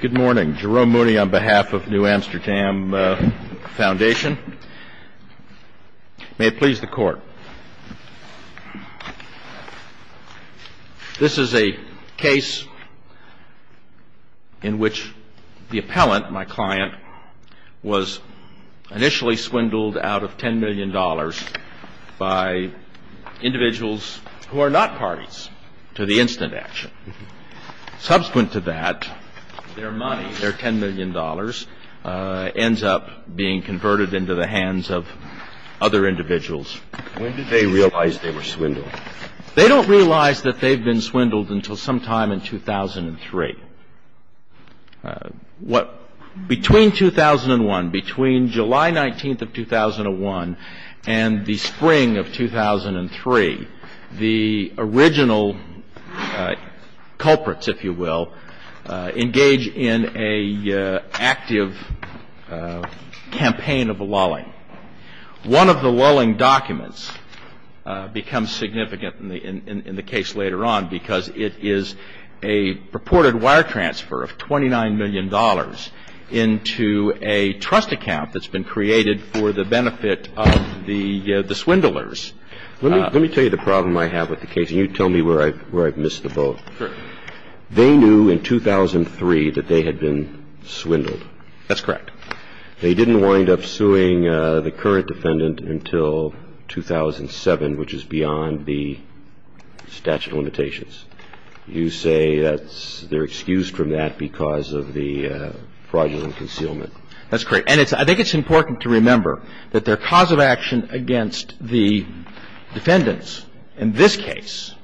Good morning. Jerome Mooney on behalf of New Amsterdam Foundation. May it please the Court. This is a case in which the appellant, my client, was initially swindled out of $10 million by individuals who are not parties to the incident action. Subsequent to that, their money, their $10 million, ends up being converted into the hands of other individuals. When did they realize they were swindled? They don't realize that they've been swindled until sometime in 2003. Between 2001, between July 19th of 2001 and the spring of 2003, the original culprits, if you will, engage in an active campaign of lulling. One of the lulling documents becomes significant in the case later on because it is a purported wire transfer of $29 million into a trust account that's been created for the benefit of the swindlers. Let me tell you the problem I have with the case, and you tell me where I've missed the boat. Sure. They knew in 2003 that they had been swindled. That's correct. They didn't wind up suing the current defendant until 2007, which is beyond the statute of limitations. You say that they're excused from that because of the fraudulent concealment. That's correct. And I think it's important to remember that their cause of action against the defendants in this case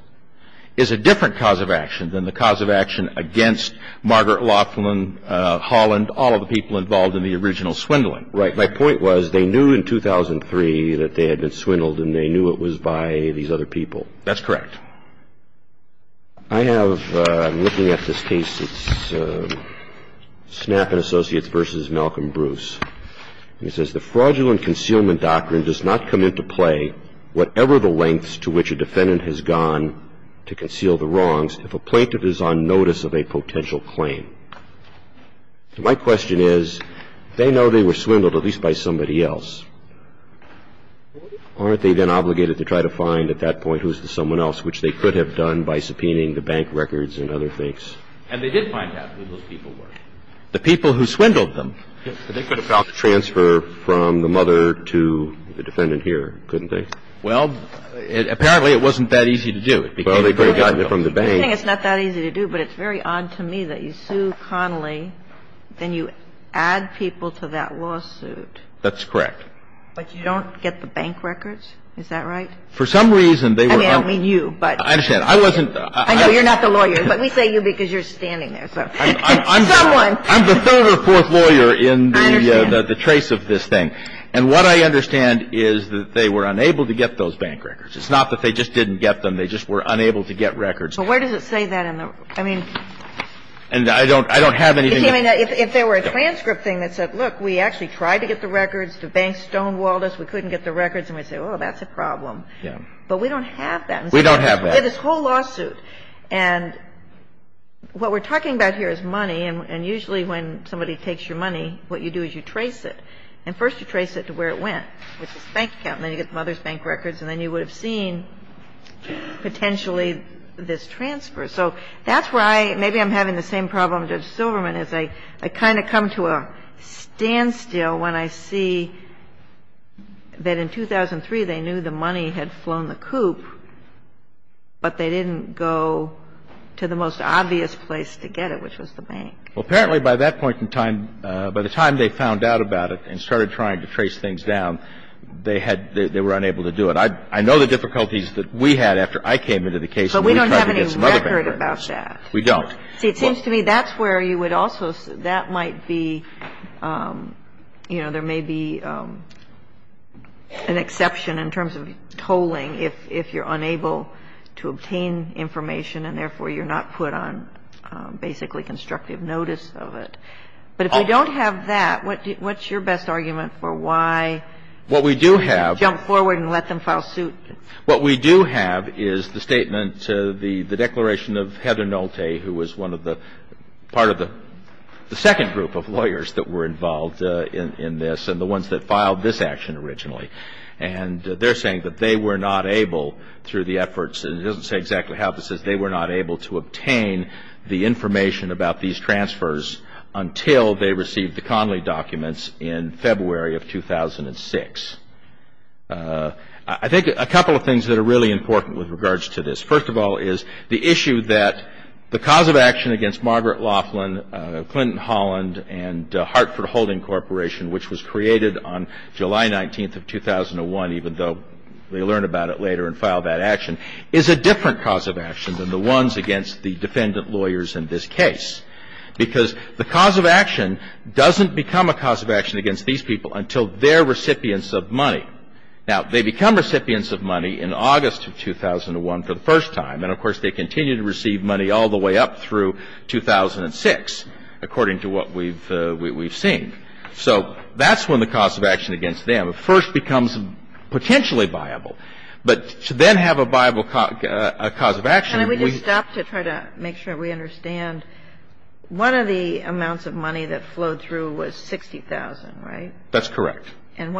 is a different cause of action than the cause of action against Margaret Laughlin, Holland, all of the people involved in the original swindling. Right. My point was they knew in 2003 that they had been swindled, and they knew it was by these other people. That's correct. I have – I'm looking at this case. It's Snap and Associates v. Malcolm Bruce. And it says, My question is, they know they were swindled, at least by somebody else. Aren't they then obligated to try to find at that point who's the someone else, which they could have done by subpoenaing the bank records and other things? And they did find out who those people were. The people who swindled them. Yes. I mean, they could have gotten it from the mother to the defendant here, couldn't they? Well, apparently it wasn't that easy to do. Well, they could have gotten it from the bank. I think it's not that easy to do, but it's very odd to me that you sue Connolly, then you add people to that lawsuit. That's correct. But you don't get the bank records? Is that right? For some reason, they were – I mean, I don't mean you, but – I understand. The trace of this thing. And what I understand is that they were unable to get those bank records. It's not that they just didn't get them. They just were unable to get records. But where does it say that in the – I mean – And I don't have anything – If there were a transcript thing that said, look, we actually tried to get the records. The bank stonewalled us. We couldn't get the records. And we say, oh, that's a problem. Yeah. But we don't have that. We don't have that. We have this whole lawsuit. And what we're talking about here is money. And usually when somebody takes your money, what you do is you trace it. And first you trace it to where it went, which is the bank account. And then you get the mother's bank records. And then you would have seen potentially this transfer. So that's where I – maybe I'm having the same problem, Judge Silverman, is I kind of come to a standstill when I see that in 2003 they knew the money had flown the coop, but they didn't go to the most obvious place to get it, which was the bank. Well, apparently by that point in time, by the time they found out about it and started trying to trace things down, they had – they were unable to do it. I know the difficulties that we had after I came into the case. So we don't have any record about that. We don't. See, it seems to me that's where you would also – that might be – you know, there may be an exception in terms of tolling if you're unable to obtain information and therefore you're not put on basically constructive notice of it. But if we don't have that, what's your best argument for why jump forward and let them file suit? What we do have is the statement, the declaration of Hedinolte, who was one of the – part of the second group of lawyers that were involved in this and the ones that filed this action originally. And they're saying that they were not able, through the efforts – and it doesn't say exactly how this is – they were not able to obtain the information about these transfers until they received the Connolly documents in February of 2006. I think a couple of things that are really important with regards to this. First of all is the issue that the cause of action against Margaret Laughlin, Clinton Holland, and Hartford Holding Corporation, which was created on July 19th of 2001, even though they learn about it later and file that action, is a different cause of action than the ones against the defendant lawyers in this case. Because the cause of action doesn't become a cause of action against these people until they're recipients of money. Now, they become recipients of money in August of 2001 for the first time. And, of course, they continue to receive money all the way up through 2006, according to what we've seen. So that's when the cause of action against them first becomes potentially viable. But to then have a viable cause of action, we – Can we just stop to try to make sure we understand? One of the amounts of money that flowed through was $60,000, right? That's correct. And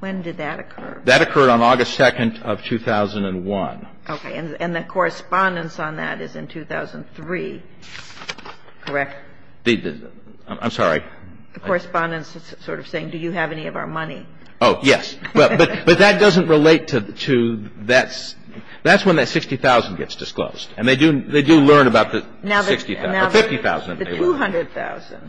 when did that occur? That occurred on August 2nd of 2001. Okay. And the correspondence on that is in 2003, correct? I'm sorry. The correspondence is sort of saying, do you have any of our money? Oh, yes. But that doesn't relate to that's – that's when that $60,000 gets disclosed. And they do learn about the $60,000 or $50,000. Now, the $200,000.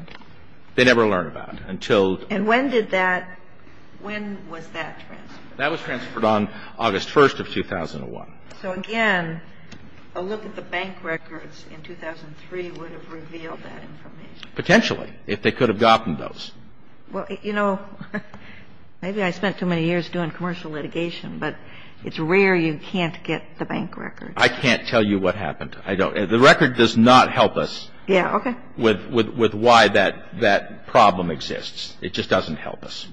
They never learn about it until – And when did that – when was that transferred? That was transferred on August 1st of 2001. So, again, a look at the bank records in 2003 would have revealed that information. Potentially, if they could have gotten those. Well, you know, maybe I spent too many years doing commercial litigation, but it's rare you can't get the bank records. I can't tell you what happened. I don't – the record does not help us with why that problem exists. It just doesn't help us.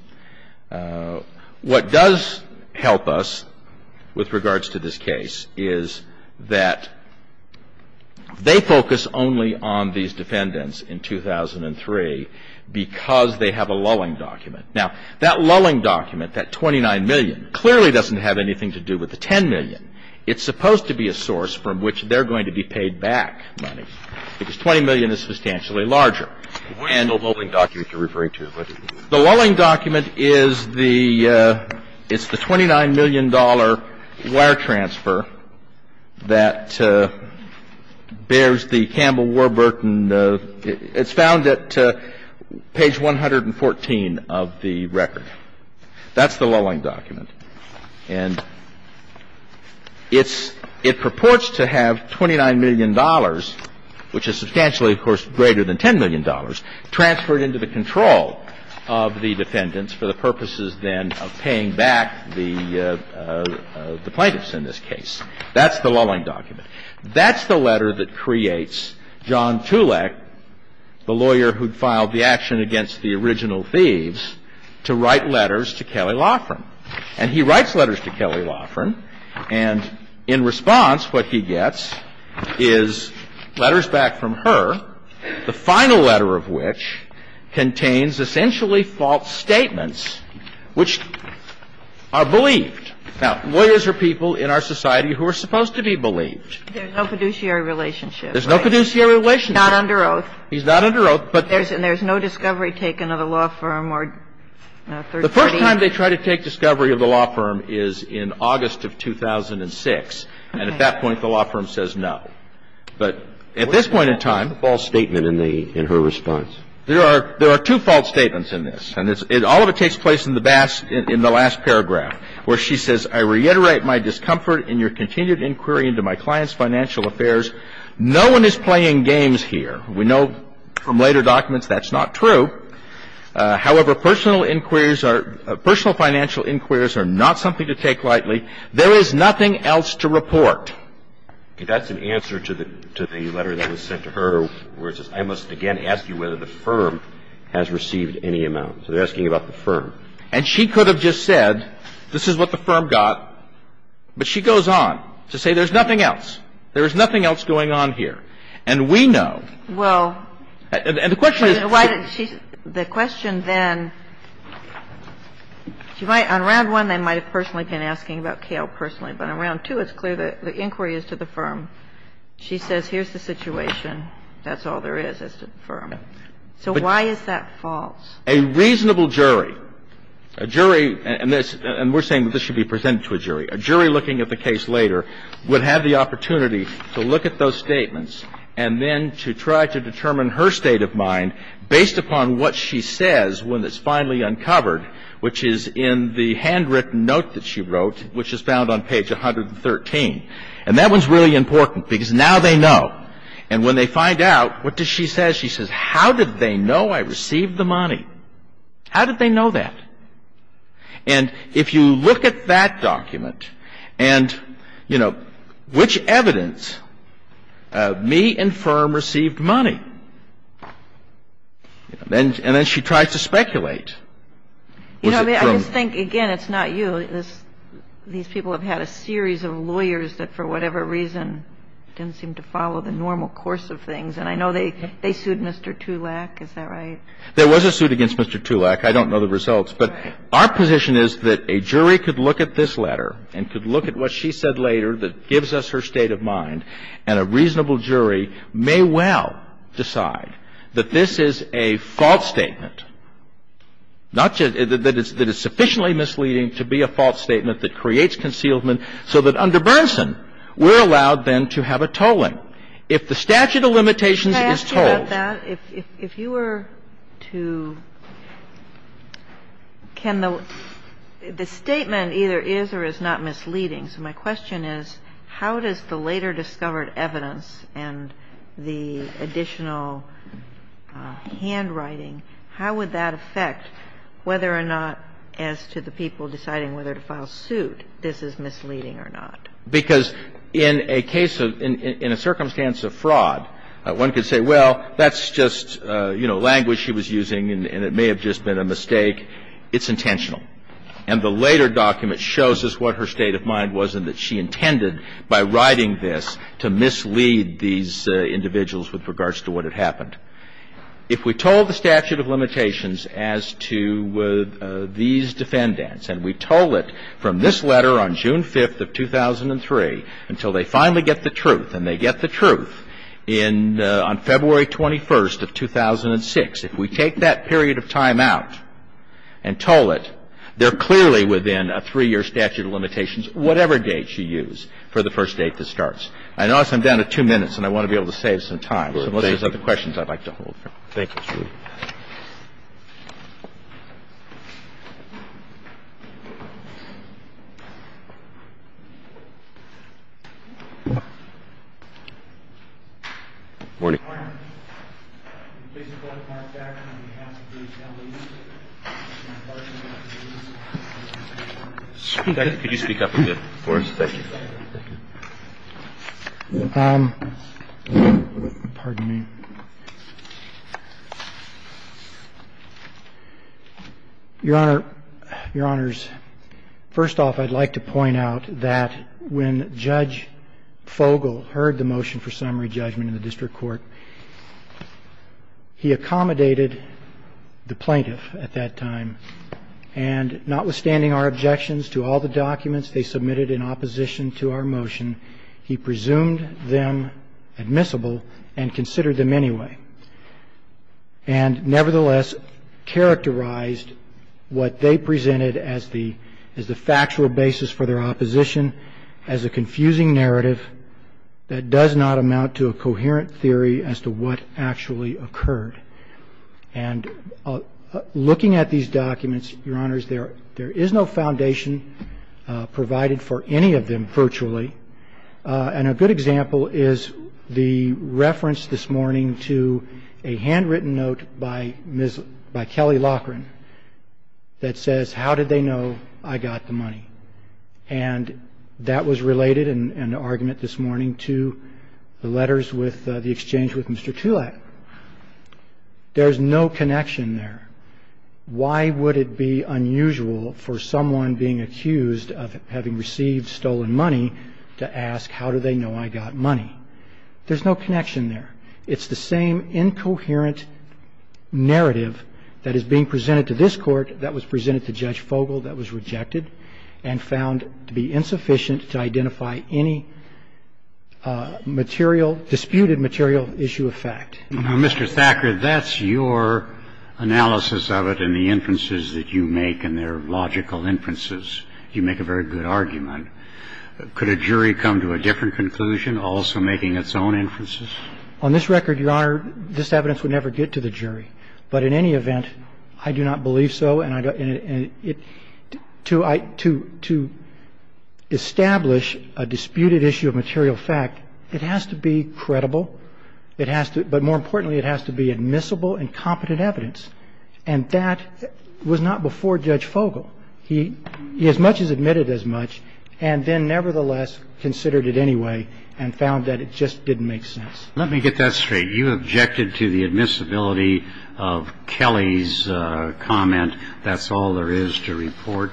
What does help us with regards to this case is that they focus only on these defendants in 2003 because they have a lulling document. Now, that lulling document, that $29 million, clearly doesn't have anything to do with the $10 million. It's supposed to be a source from which they're going to be paid back money because $20 million is substantially larger. What is the lulling document you're referring to? The lulling document is the – it's the $29 million wire transfer that bears the Campbell-Warburton – it's found at page 114 of the record. That's the lulling document. And it's – it purports to have $29 million, which is substantially, of course, greater than $10 million, transferred into the control of the defendants for the purposes then of paying back the plaintiffs in this case. That's the lulling document. That's the letter that creates John Tulek, the lawyer who filed the action against the original thieves, to write letters to Kelley Law Firm. And he writes letters to Kelley Law Firm, and in response, what he gets is letters back from her, the final letter of which contains essentially false statements, which are believed. Now, lawyers are people in our society who are supposed to be believed. There's no fiduciary relationship, right? There's no fiduciary relationship. He's not under oath. He's not under oath. And there's no discovery taken of the law firm or third parties? The first time they try to take discovery of the law firm is in August of 2006. And at that point, the law firm says no. But at this point in time – What's the false statement in the – in her response? There are two false statements in this. And all of it takes place in the last paragraph, where she says, I reiterate my discomfort in your continued inquiry into my client's financial affairs. No one is playing games here. We know from later documents that's not true. However, personal inquiries are – personal financial inquiries are not something to take lightly. There is nothing else to report. Okay. That's an answer to the letter that was sent to her, where it says, I must again ask you whether the firm has received any amount. So they're asking about the firm. And she could have just said, this is what the firm got. But she goes on to say there's nothing else. There is nothing else going on here. And we know – Well – And the question is – Why did she – the question then – on Round 1, they might have personally been asking about Cale personally. But on Round 2, it's clear that the inquiry is to the firm. She says, here's the situation. That's all there is, is to the firm. So why is that false? A reasonable jury, a jury – and we're saying that this should be presented to a jury. A jury looking at the case later would have the opportunity to look at those statements and then to try to determine her state of mind based upon what she says when it's finally uncovered, which is in the handwritten note that she wrote, which is found on page 113. And that one's really important because now they know. And when they find out, what does she say? She says, how did they know I received the money? How did they know that? And if you look at that document and, you know, which evidence? Me and firm received money. And then she tries to speculate. You know, I just think, again, it's not you. These people have had a series of lawyers that, for whatever reason, didn't seem to follow the normal course of things. And I know they sued Mr. Tulak. Is that right? There was a suit against Mr. Tulak. I don't know the results. But our position is that a jury could look at this letter and could look at what she said later that gives us her state of mind, and a reasonable jury may well decide that this is a false statement, not just that it's sufficiently misleading to be a false statement that creates concealment, so that under Bernson, we're allowed then to have a tolling. If the statute of limitations is told. If you were to can the statement either is or is not misleading. So my question is, how does the later discovered evidence and the additional handwriting, how would that affect whether or not as to the people deciding whether to file suit, this is misleading or not? Because in a case of, in a circumstance of fraud, one could say, well, that's just, you know, language she was using and it may have just been a mistake. It's intentional. And the later document shows us what her state of mind was and that she intended by writing this to mislead these individuals with regards to what had happened. If we told the statute of limitations as to these defendants, and we told it from this letter on June 5th of 2003 until they finally get the truth, and they get the truth in, on February 21st of 2006, if we take that period of time out and toll it, they're clearly within a 3-year statute of limitations, whatever date she used for the first date that starts. I notice I'm down to 2 minutes and I want to be able to save some time. So unless there's other questions, I'd like to hold. Thank you. Good morning. Could you speak up a bit for us? Thank you. Pardon me. Your Honor, Your Honors, first off, I'd like to point out that when Judge Fogel heard the motion for summary judgment in the district court, he accommodated the plaintiff at that time. And notwithstanding our objections to all the documents they submitted in opposition to our motion, he presumed them admissible and considered them anyway. And nevertheless, characterized what they presented as the factual basis for their argument, that does not amount to a coherent theory as to what actually occurred. And looking at these documents, Your Honors, there is no foundation provided for any of them virtually. And a good example is the reference this morning to a handwritten note by Kelly Loughran that says, how did they know I got the money? And that was related in an argument this morning to the letters with the exchange with Mr. Tulak. There's no connection there. Why would it be unusual for someone being accused of having received stolen money to ask how do they know I got money? There's no connection there. It's the same incoherent narrative that is being presented to this court that was found to be insufficient to identify any material, disputed material issue of fact. Now, Mr. Thacker, that's your analysis of it and the inferences that you make, and they're logical inferences. You make a very good argument. Could a jury come to a different conclusion, also making its own inferences? On this record, Your Honor, this evidence would never get to the jury. But in any event, I do not believe so. And to establish a disputed issue of material fact, it has to be credible. It has to be, but more importantly, it has to be admissible and competent evidence. And that was not before Judge Fogle. He as much as admitted as much, and then nevertheless considered it anyway and found that it just didn't make sense. Let me get that straight. You objected to the admissibility of Kelly's comment, that's all there is to report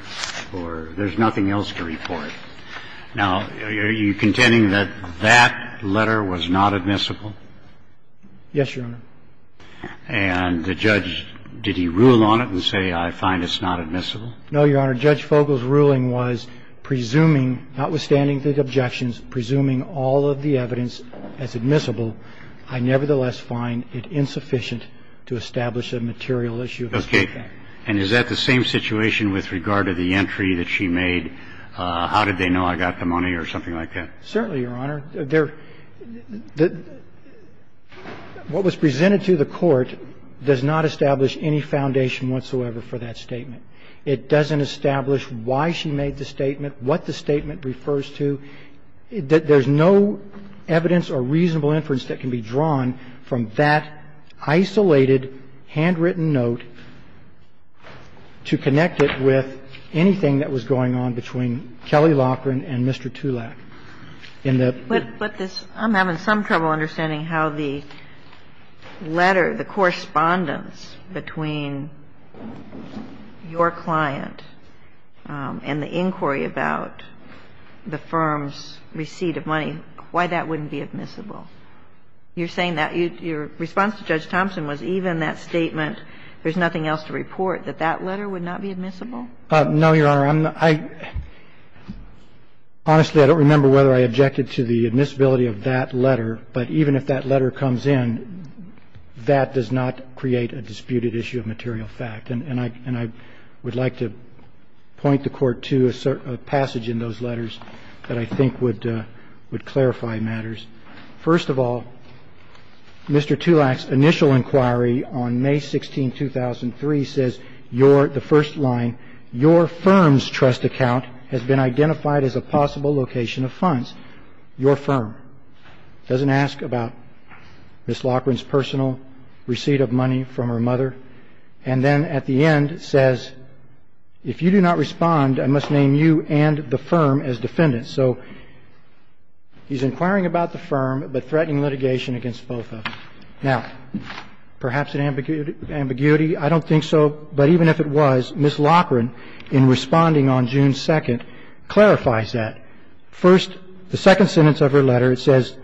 or there's nothing else to report. Now, are you contending that that letter was not admissible? Yes, Your Honor. And the judge, did he rule on it and say, I find it's not admissible? No, Your Honor. Judge Fogle's ruling was presuming, notwithstanding the objections, presuming all of the evidence as admissible, I nevertheless find it insufficient to establish a material issue. Okay. And is that the same situation with regard to the entry that she made, how did they know I got the money or something like that? Certainly, Your Honor. What was presented to the Court does not establish any foundation whatsoever for that statement. It doesn't establish why she made the statement, what the statement refers to. There's no evidence or reasonable inference that can be drawn from that isolated handwritten note to connect it with anything that was going on between Kelly Loughran and Mr. Tulak. In the ---- But this ---- I'm having some trouble understanding how the letter, the correspondence between your client and the inquiry about the firm's receipt of money, why that wouldn't be admissible? You're saying that your response to Judge Thompson was even that statement, there's nothing else to report, that that letter would not be admissible? No, Your Honor. I'm not ---- honestly, I don't remember whether I objected to the admissibility of that letter. But even if that letter comes in, that does not create a disputed issue of material fact. And I would like to point the Court to a passage in those letters that I think would clarify matters. First of all, Mr. Tulak's initial inquiry on May 16, 2003, says your, the first line, your firm's trust account has been identified as a possible location of funds. Your firm. It doesn't ask about Ms. Loughran's personal receipt of money from her mother. And then at the end, it says, if you do not respond, I must name you and the firm as defendants. So he's inquiring about the firm, but threatening litigation against both of them. Now, perhaps an ambiguity? I don't think so. But even if it was, Ms. Loughran, in responding on June 2, clarifies that. First, the second sentence of her letter, it says,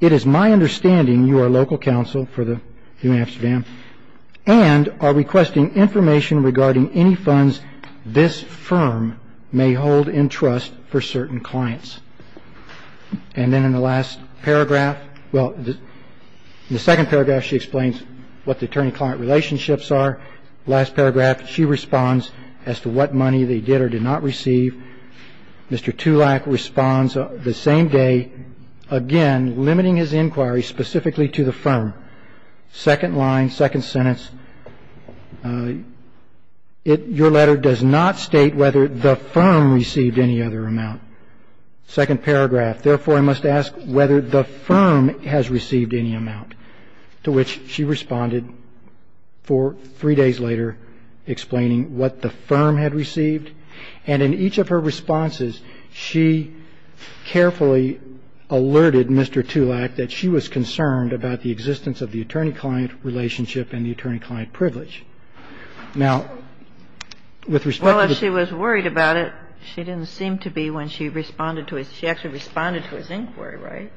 it is my understanding you are local counsel for the New Amsterdam and are requesting information regarding any funds this firm may hold in trust for certain clients. And then in the last paragraph, well, in the second paragraph, she explains what the attorney-client relationships are. Last paragraph, she responds as to what money they did or did not receive. Mr. Tulak responds the same day, again, limiting his inquiry specifically to the firm. Second line, second sentence, your letter does not state whether the firm received any other amount. Second paragraph, therefore, I must ask whether the firm has received any amount. To which she responded for three days later, explaining what the firm had received. And in each of her responses, she carefully alerted Mr. Tulak that she was concerned about the existence of the attorney-client relationship and the attorney-client privilege. Now, with respect to the ---- Well, if she was worried about it, she didn't seem to be when she responded to his ---- she actually responded to his inquiry, right?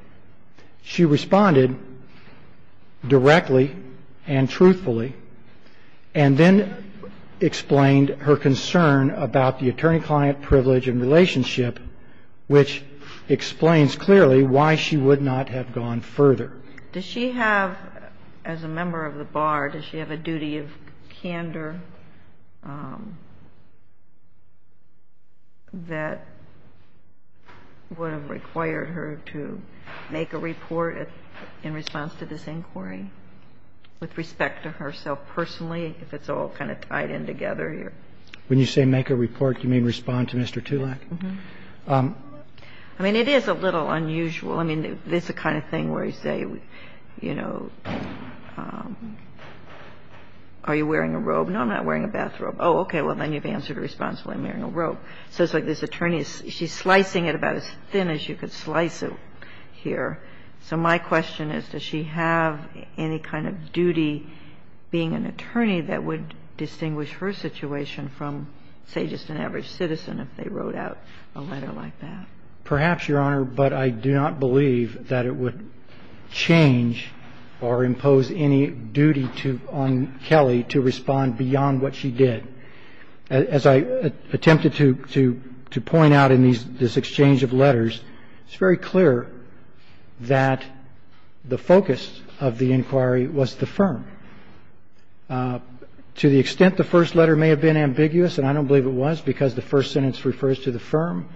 She responded directly and truthfully and then explained her concern about the attorney-client privilege and relationship, which explains clearly why she would not have gone further. Does she have, as a member of the bar, does she have a duty of candor that would have required her to make a report in response to this inquiry? With respect to herself personally, if it's all kind of tied in together here. When you say make a report, you mean respond to Mr. Tulak? I mean, it is a little unusual. I mean, it's the kind of thing where you say, you know, are you wearing a robe? No, I'm not wearing a bathrobe. Oh, okay, well, then you've answered responsibly. I'm wearing a robe. So it's like this attorney, she's slicing it about as thin as you could slice it here. So my question is, does she have any kind of duty being an attorney that would distinguish her situation from, say, just an average citizen if they wrote out a letter like that? Perhaps, Your Honor, but I do not believe that it would change or impose any duty to ---- on Kelly to respond beyond what she did. As I attempted to point out in this exchange of letters, it's very clear that the focus of the inquiry was the firm. To the extent the first letter may have been ambiguous, and I don't believe it was because the first sentence refers to the firm,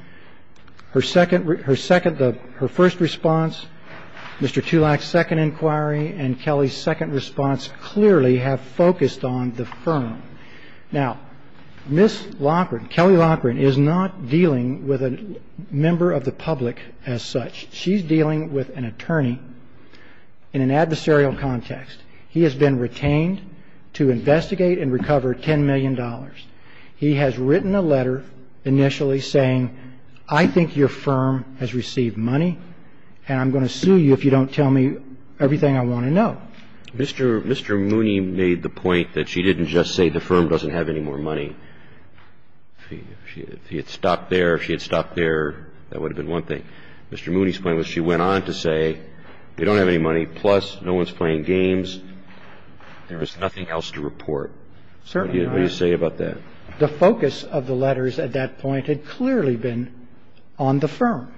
her second ---- her first response, Mr. Tulak's second inquiry, and Kelly's second response clearly have focused on the firm. Now, Ms. Loughran, Kelly Loughran, is not dealing with a member of the public as such. She's dealing with an attorney in an adversarial context. He has been retained to investigate and recover $10 million. He has written a letter initially saying, I think your firm has received money, and I'm going to sue you if you don't tell me everything I want to know. Mr. Mooney made the point that she didn't just say the firm doesn't have any more money. If she had stopped there, if she had stopped there, that would have been one thing. Mr. Mooney's point was she went on to say they don't have any money, plus no one's playing games, there was nothing else to report. What do you say about that? The focus of the letters at that point had clearly been on the firm.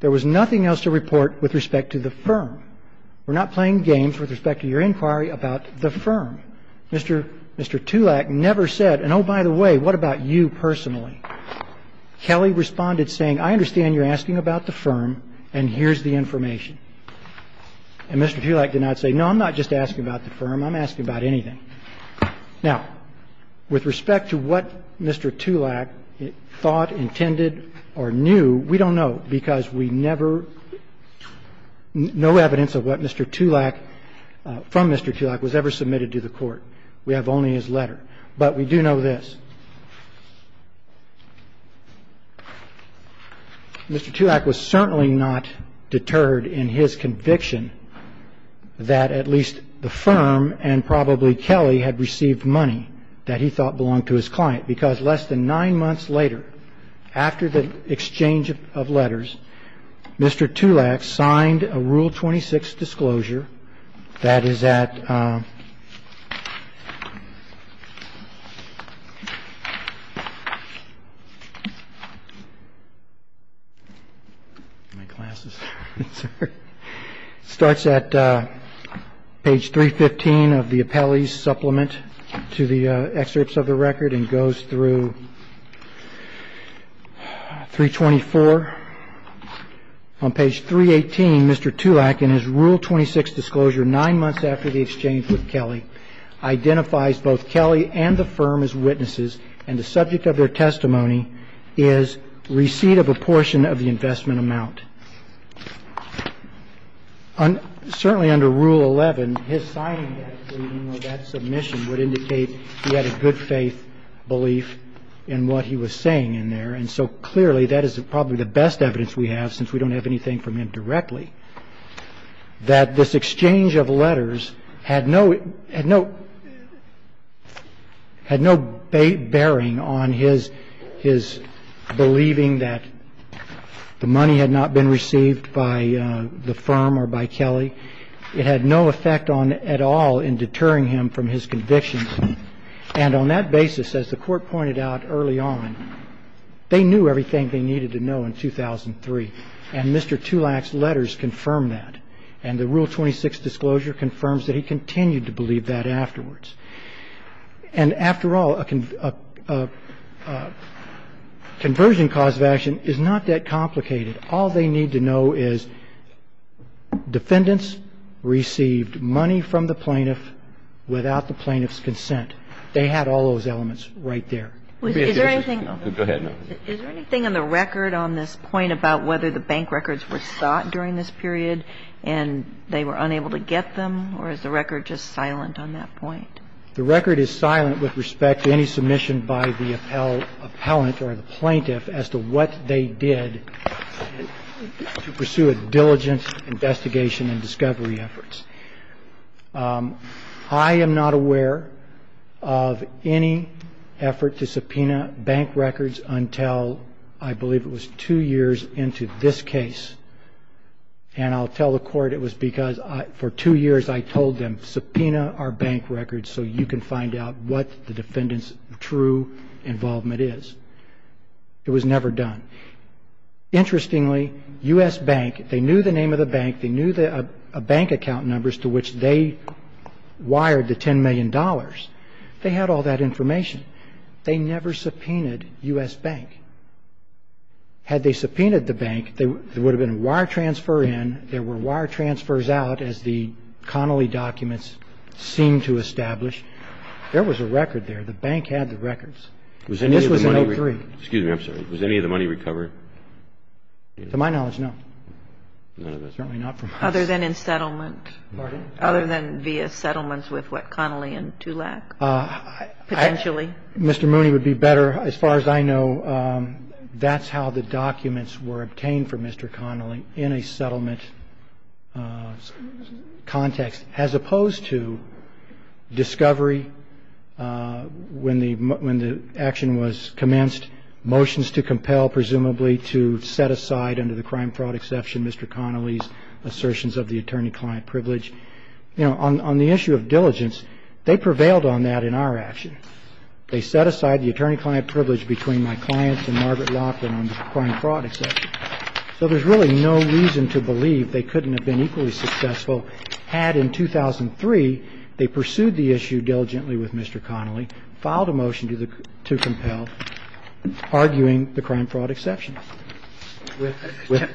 There was nothing else to report with respect to the firm. We're not playing games with respect to your inquiry about the firm. Mr. Tulak never said, and oh, by the way, what about you personally? Kelly responded saying, I understand you're asking about the firm, and here's the information. And Mr. Tulak did not say, no, I'm not just asking about the firm. I'm asking about anything. Now, with respect to what Mr. Tulak thought, intended or knew, we don't know because we never, no evidence of what Mr. Tulak, from Mr. Tulak was ever submitted to the court. We have only his letter. But we do know this. Mr. Tulak was certainly not deterred in his conviction that at least the firm and probably Kelly had received money that he thought belonged to his client because However, it appears that less than nine months later, after the exchange of letters, Mr. Tulak signed a rule 26 disclosure that is at page 324. On page 318, Mr. Tulak, in his rule 26 disclosure nine months after the exchange with Kelly, identifies both Kelly and the firm as witnesses, and the subject of their testimony is receipt of a portion of the investment amount. Certainly under rule 11, his signing of that submission would indicate he had a good faith belief in what he was saying in there, and so clearly that is probably the best evidence we have since we don't have anything from him directly, that this exchange of letters had no bearing on his believing that the money had not been received by the firm or by Kelly. It had no effect on at all in deterring him from his convictions. And on that basis, as the Court pointed out early on, they knew everything they needed to know in 2003, and Mr. Tulak's letters confirm that. And the rule 26 disclosure confirms that he continued to believe that afterwards. And after all, a conversion cause of action is not that complicated. All they need to do is to go back and look at the records and see if there is anything that the plaintiff had in there that the plaintiff, without the plaintiff's consent, they had all those elements right there. Is there anything in the record on this point about whether the bank records were sought during this period and they were unable to get them, or is the record just silent on that point? The record is silent with respect to any submission by the appellant or the plaintiff as to what they did to pursue a diligent investigation and discovery efforts. I am not aware of any effort to subpoena bank records until I believe it was two years into this case. And I'll tell the Court it was because for two years I told them, subpoena our bank records so you can find out what the defendant's true involvement is. It was never done. Interestingly, U.S. Bank, they knew the name of the bank, they knew the bank account numbers to which they wired the $10 million. They had all that information. They never subpoenaed U.S. Bank. Had they subpoenaed the bank, there would have been a wire transfer in, there were wire transfers out as the Connolly documents seemed to establish. There was a record there. The bank had the records. And this was in 1903. Excuse me. I'm sorry. Was any of the money recovered? To my knowledge, no. None of it? Certainly not from us. Other than in settlement? Pardon? Other than via settlements with what, Connolly and Tulak? Potentially? In a settlement context, as opposed to discovery when the action was commenced, motions to compel, presumably, to set aside under the crime fraud exception, Mr. Connolly's assertions of the attorney-client privilege. You know, on the issue of diligence, they prevailed on that in our action. They set aside the attorney-client privilege between my clients and Margaret Lockwood And they set aside the attorney-client privilege, and the attorney-client privilege was set aside under the crime fraud exception. So there's really no reason to believe they couldn't have been equally successful had, in 2003, they pursued the issue diligently with Mr. Connolly, filed a motion to compel, arguing the crime fraud exception.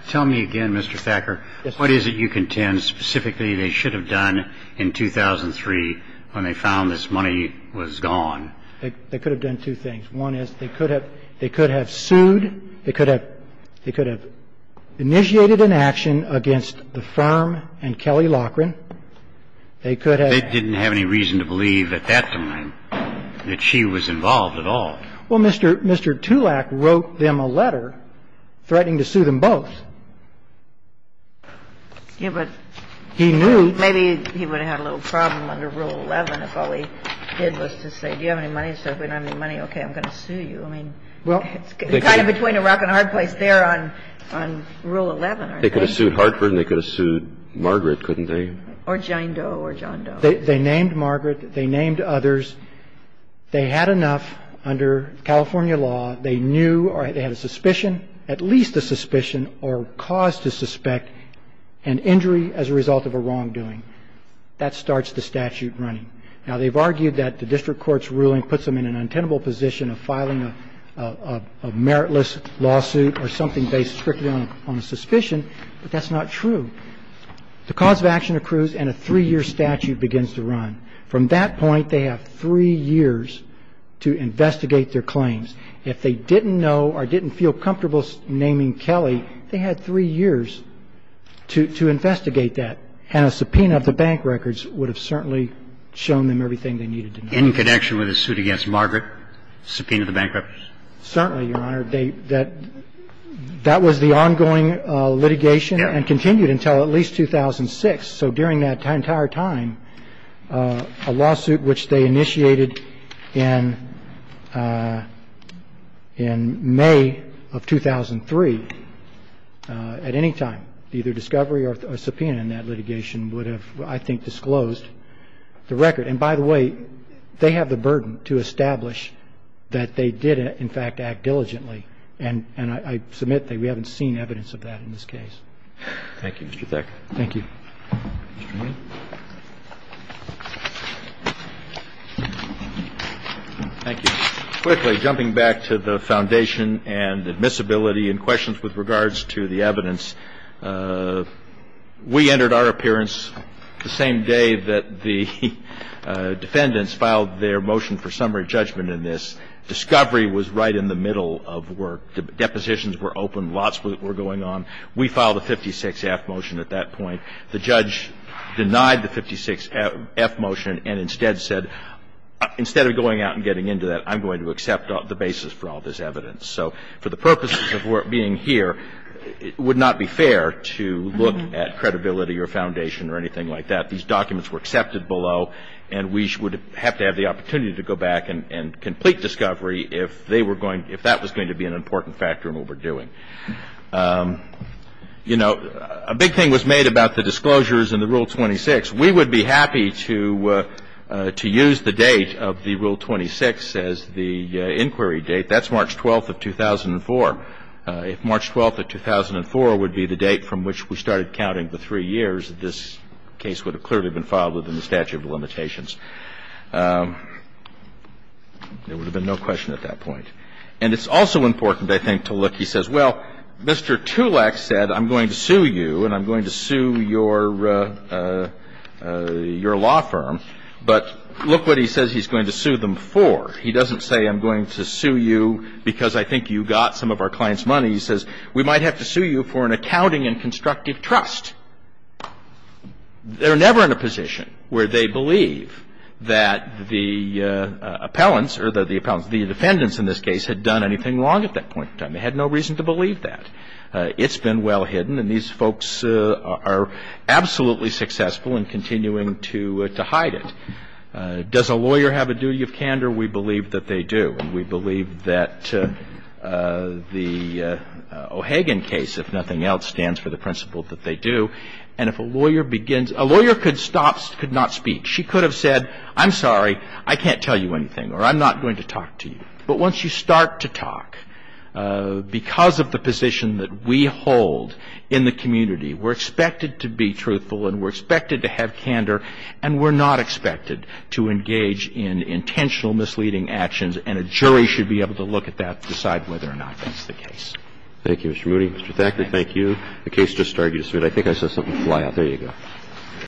Tell me again, Mr. Thacker, what is it you contend specifically they should have done in 2003 when they found this money was gone? They could have done two things. One is they could have sued. They could have initiated an action against the firm and Kelly Lockren. They didn't have any reason to believe at that time that she was involved at all. Well, Mr. Tulak wrote them a letter threatening to sue them both. Yeah, but maybe he would have had a little problem under Rule 11 if all he did was to say, do you have any money? So if we don't have any money, okay, I'm going to sue you. I mean, it's kind of between a rock and a hard place there on Rule 11. They could have sued Hartford and they could have sued Margaret, couldn't they? Or John Doe or John Doe. They named Margaret. They named others. They had enough under California law. They knew or they had a suspicion, at least a suspicion or cause to suspect an injury as a result of a wrongdoing. That starts the statute running. Now, they've argued that the district court's ruling puts them in an untenable position of filing a meritless lawsuit or something based strictly on a suspicion, but that's not true. The cause of action accrues and a three-year statute begins to run. From that point, they have three years to investigate their claims. If they didn't know or didn't feel comfortable naming Kelly, they had three years to investigate that, and a subpoena of the bank records would have certainly shown them everything they needed to know. In connection with the suit against Margaret, subpoena of the bank records? Certainly, Your Honor. That was the ongoing litigation and continued until at least 2006. So during that entire time, a lawsuit which they initiated in May of 2003, at any time, either discovery or subpoena in that litigation would have, I think, disclosed the record. And by the way, they have the burden to establish that they did, in fact, act diligently. And I submit that we haven't seen evidence of that in this case. Thank you, Mr. Thacker. Thank you. Mr. Meehan. Thank you. Quickly, jumping back to the foundation and admissibility and questions with regards to the evidence, we entered our appearance the same day that the defendants filed their motion for summary judgment in this. Discovery was right in the middle of work. Depositions were open. Lots were going on. We filed a 56-F motion at that point. The judge denied the 56-F motion and instead said, instead of going out and getting into that, I'm going to accept the basis for all this evidence. So for the purposes of being here, it would not be fair to look at credibility or foundation or anything like that. These documents were accepted below, and we would have to have the opportunity to go back and complete discovery if they were going, if that was going to be an important factor in what we're doing. You know, a big thing was made about the disclosures and the Rule 26. We would be happy to use the date of the Rule 26 as the inquiry date. That's March 12th of 2004. If March 12th of 2004 would be the date from which we started counting the three years, this case would have clearly been filed within the statute of limitations. There would have been no question at that point. And it's also important, I think, to look. He says, well, Mr. Tulek said I'm going to sue you and I'm going to sue your law firm. But look what he says he's going to sue them for. He doesn't say I'm going to sue you because I think you got some of our clients' money. He says we might have to sue you for an accounting and constructive trust. They're never in a position where they believe that the appellants or the defendants in this case had done anything wrong at that point in time. They had no reason to believe that. It's been well hidden, and these folks are absolutely successful in continuing to hide it. Does a lawyer have a duty of candor? We believe that they do. And we believe that the O'Hagan case, if nothing else, stands for the principle that they do. And if a lawyer begins – a lawyer could stop, could not speak. She could have said, I'm sorry, I can't tell you anything, or I'm not going to talk to you. But once you start to talk, because of the position that we hold in the community, we're expected to be truthful and we're expected to have candor, and we're not expected to And so we believe that a lawyer should be able to look at intentional misleading actions and a jury should be able to look at that to decide whether or not that's the case. Thank you, Mr. Moody. Mr. Thacker, thank you. The case just started. I think I saw something fly out. There you go.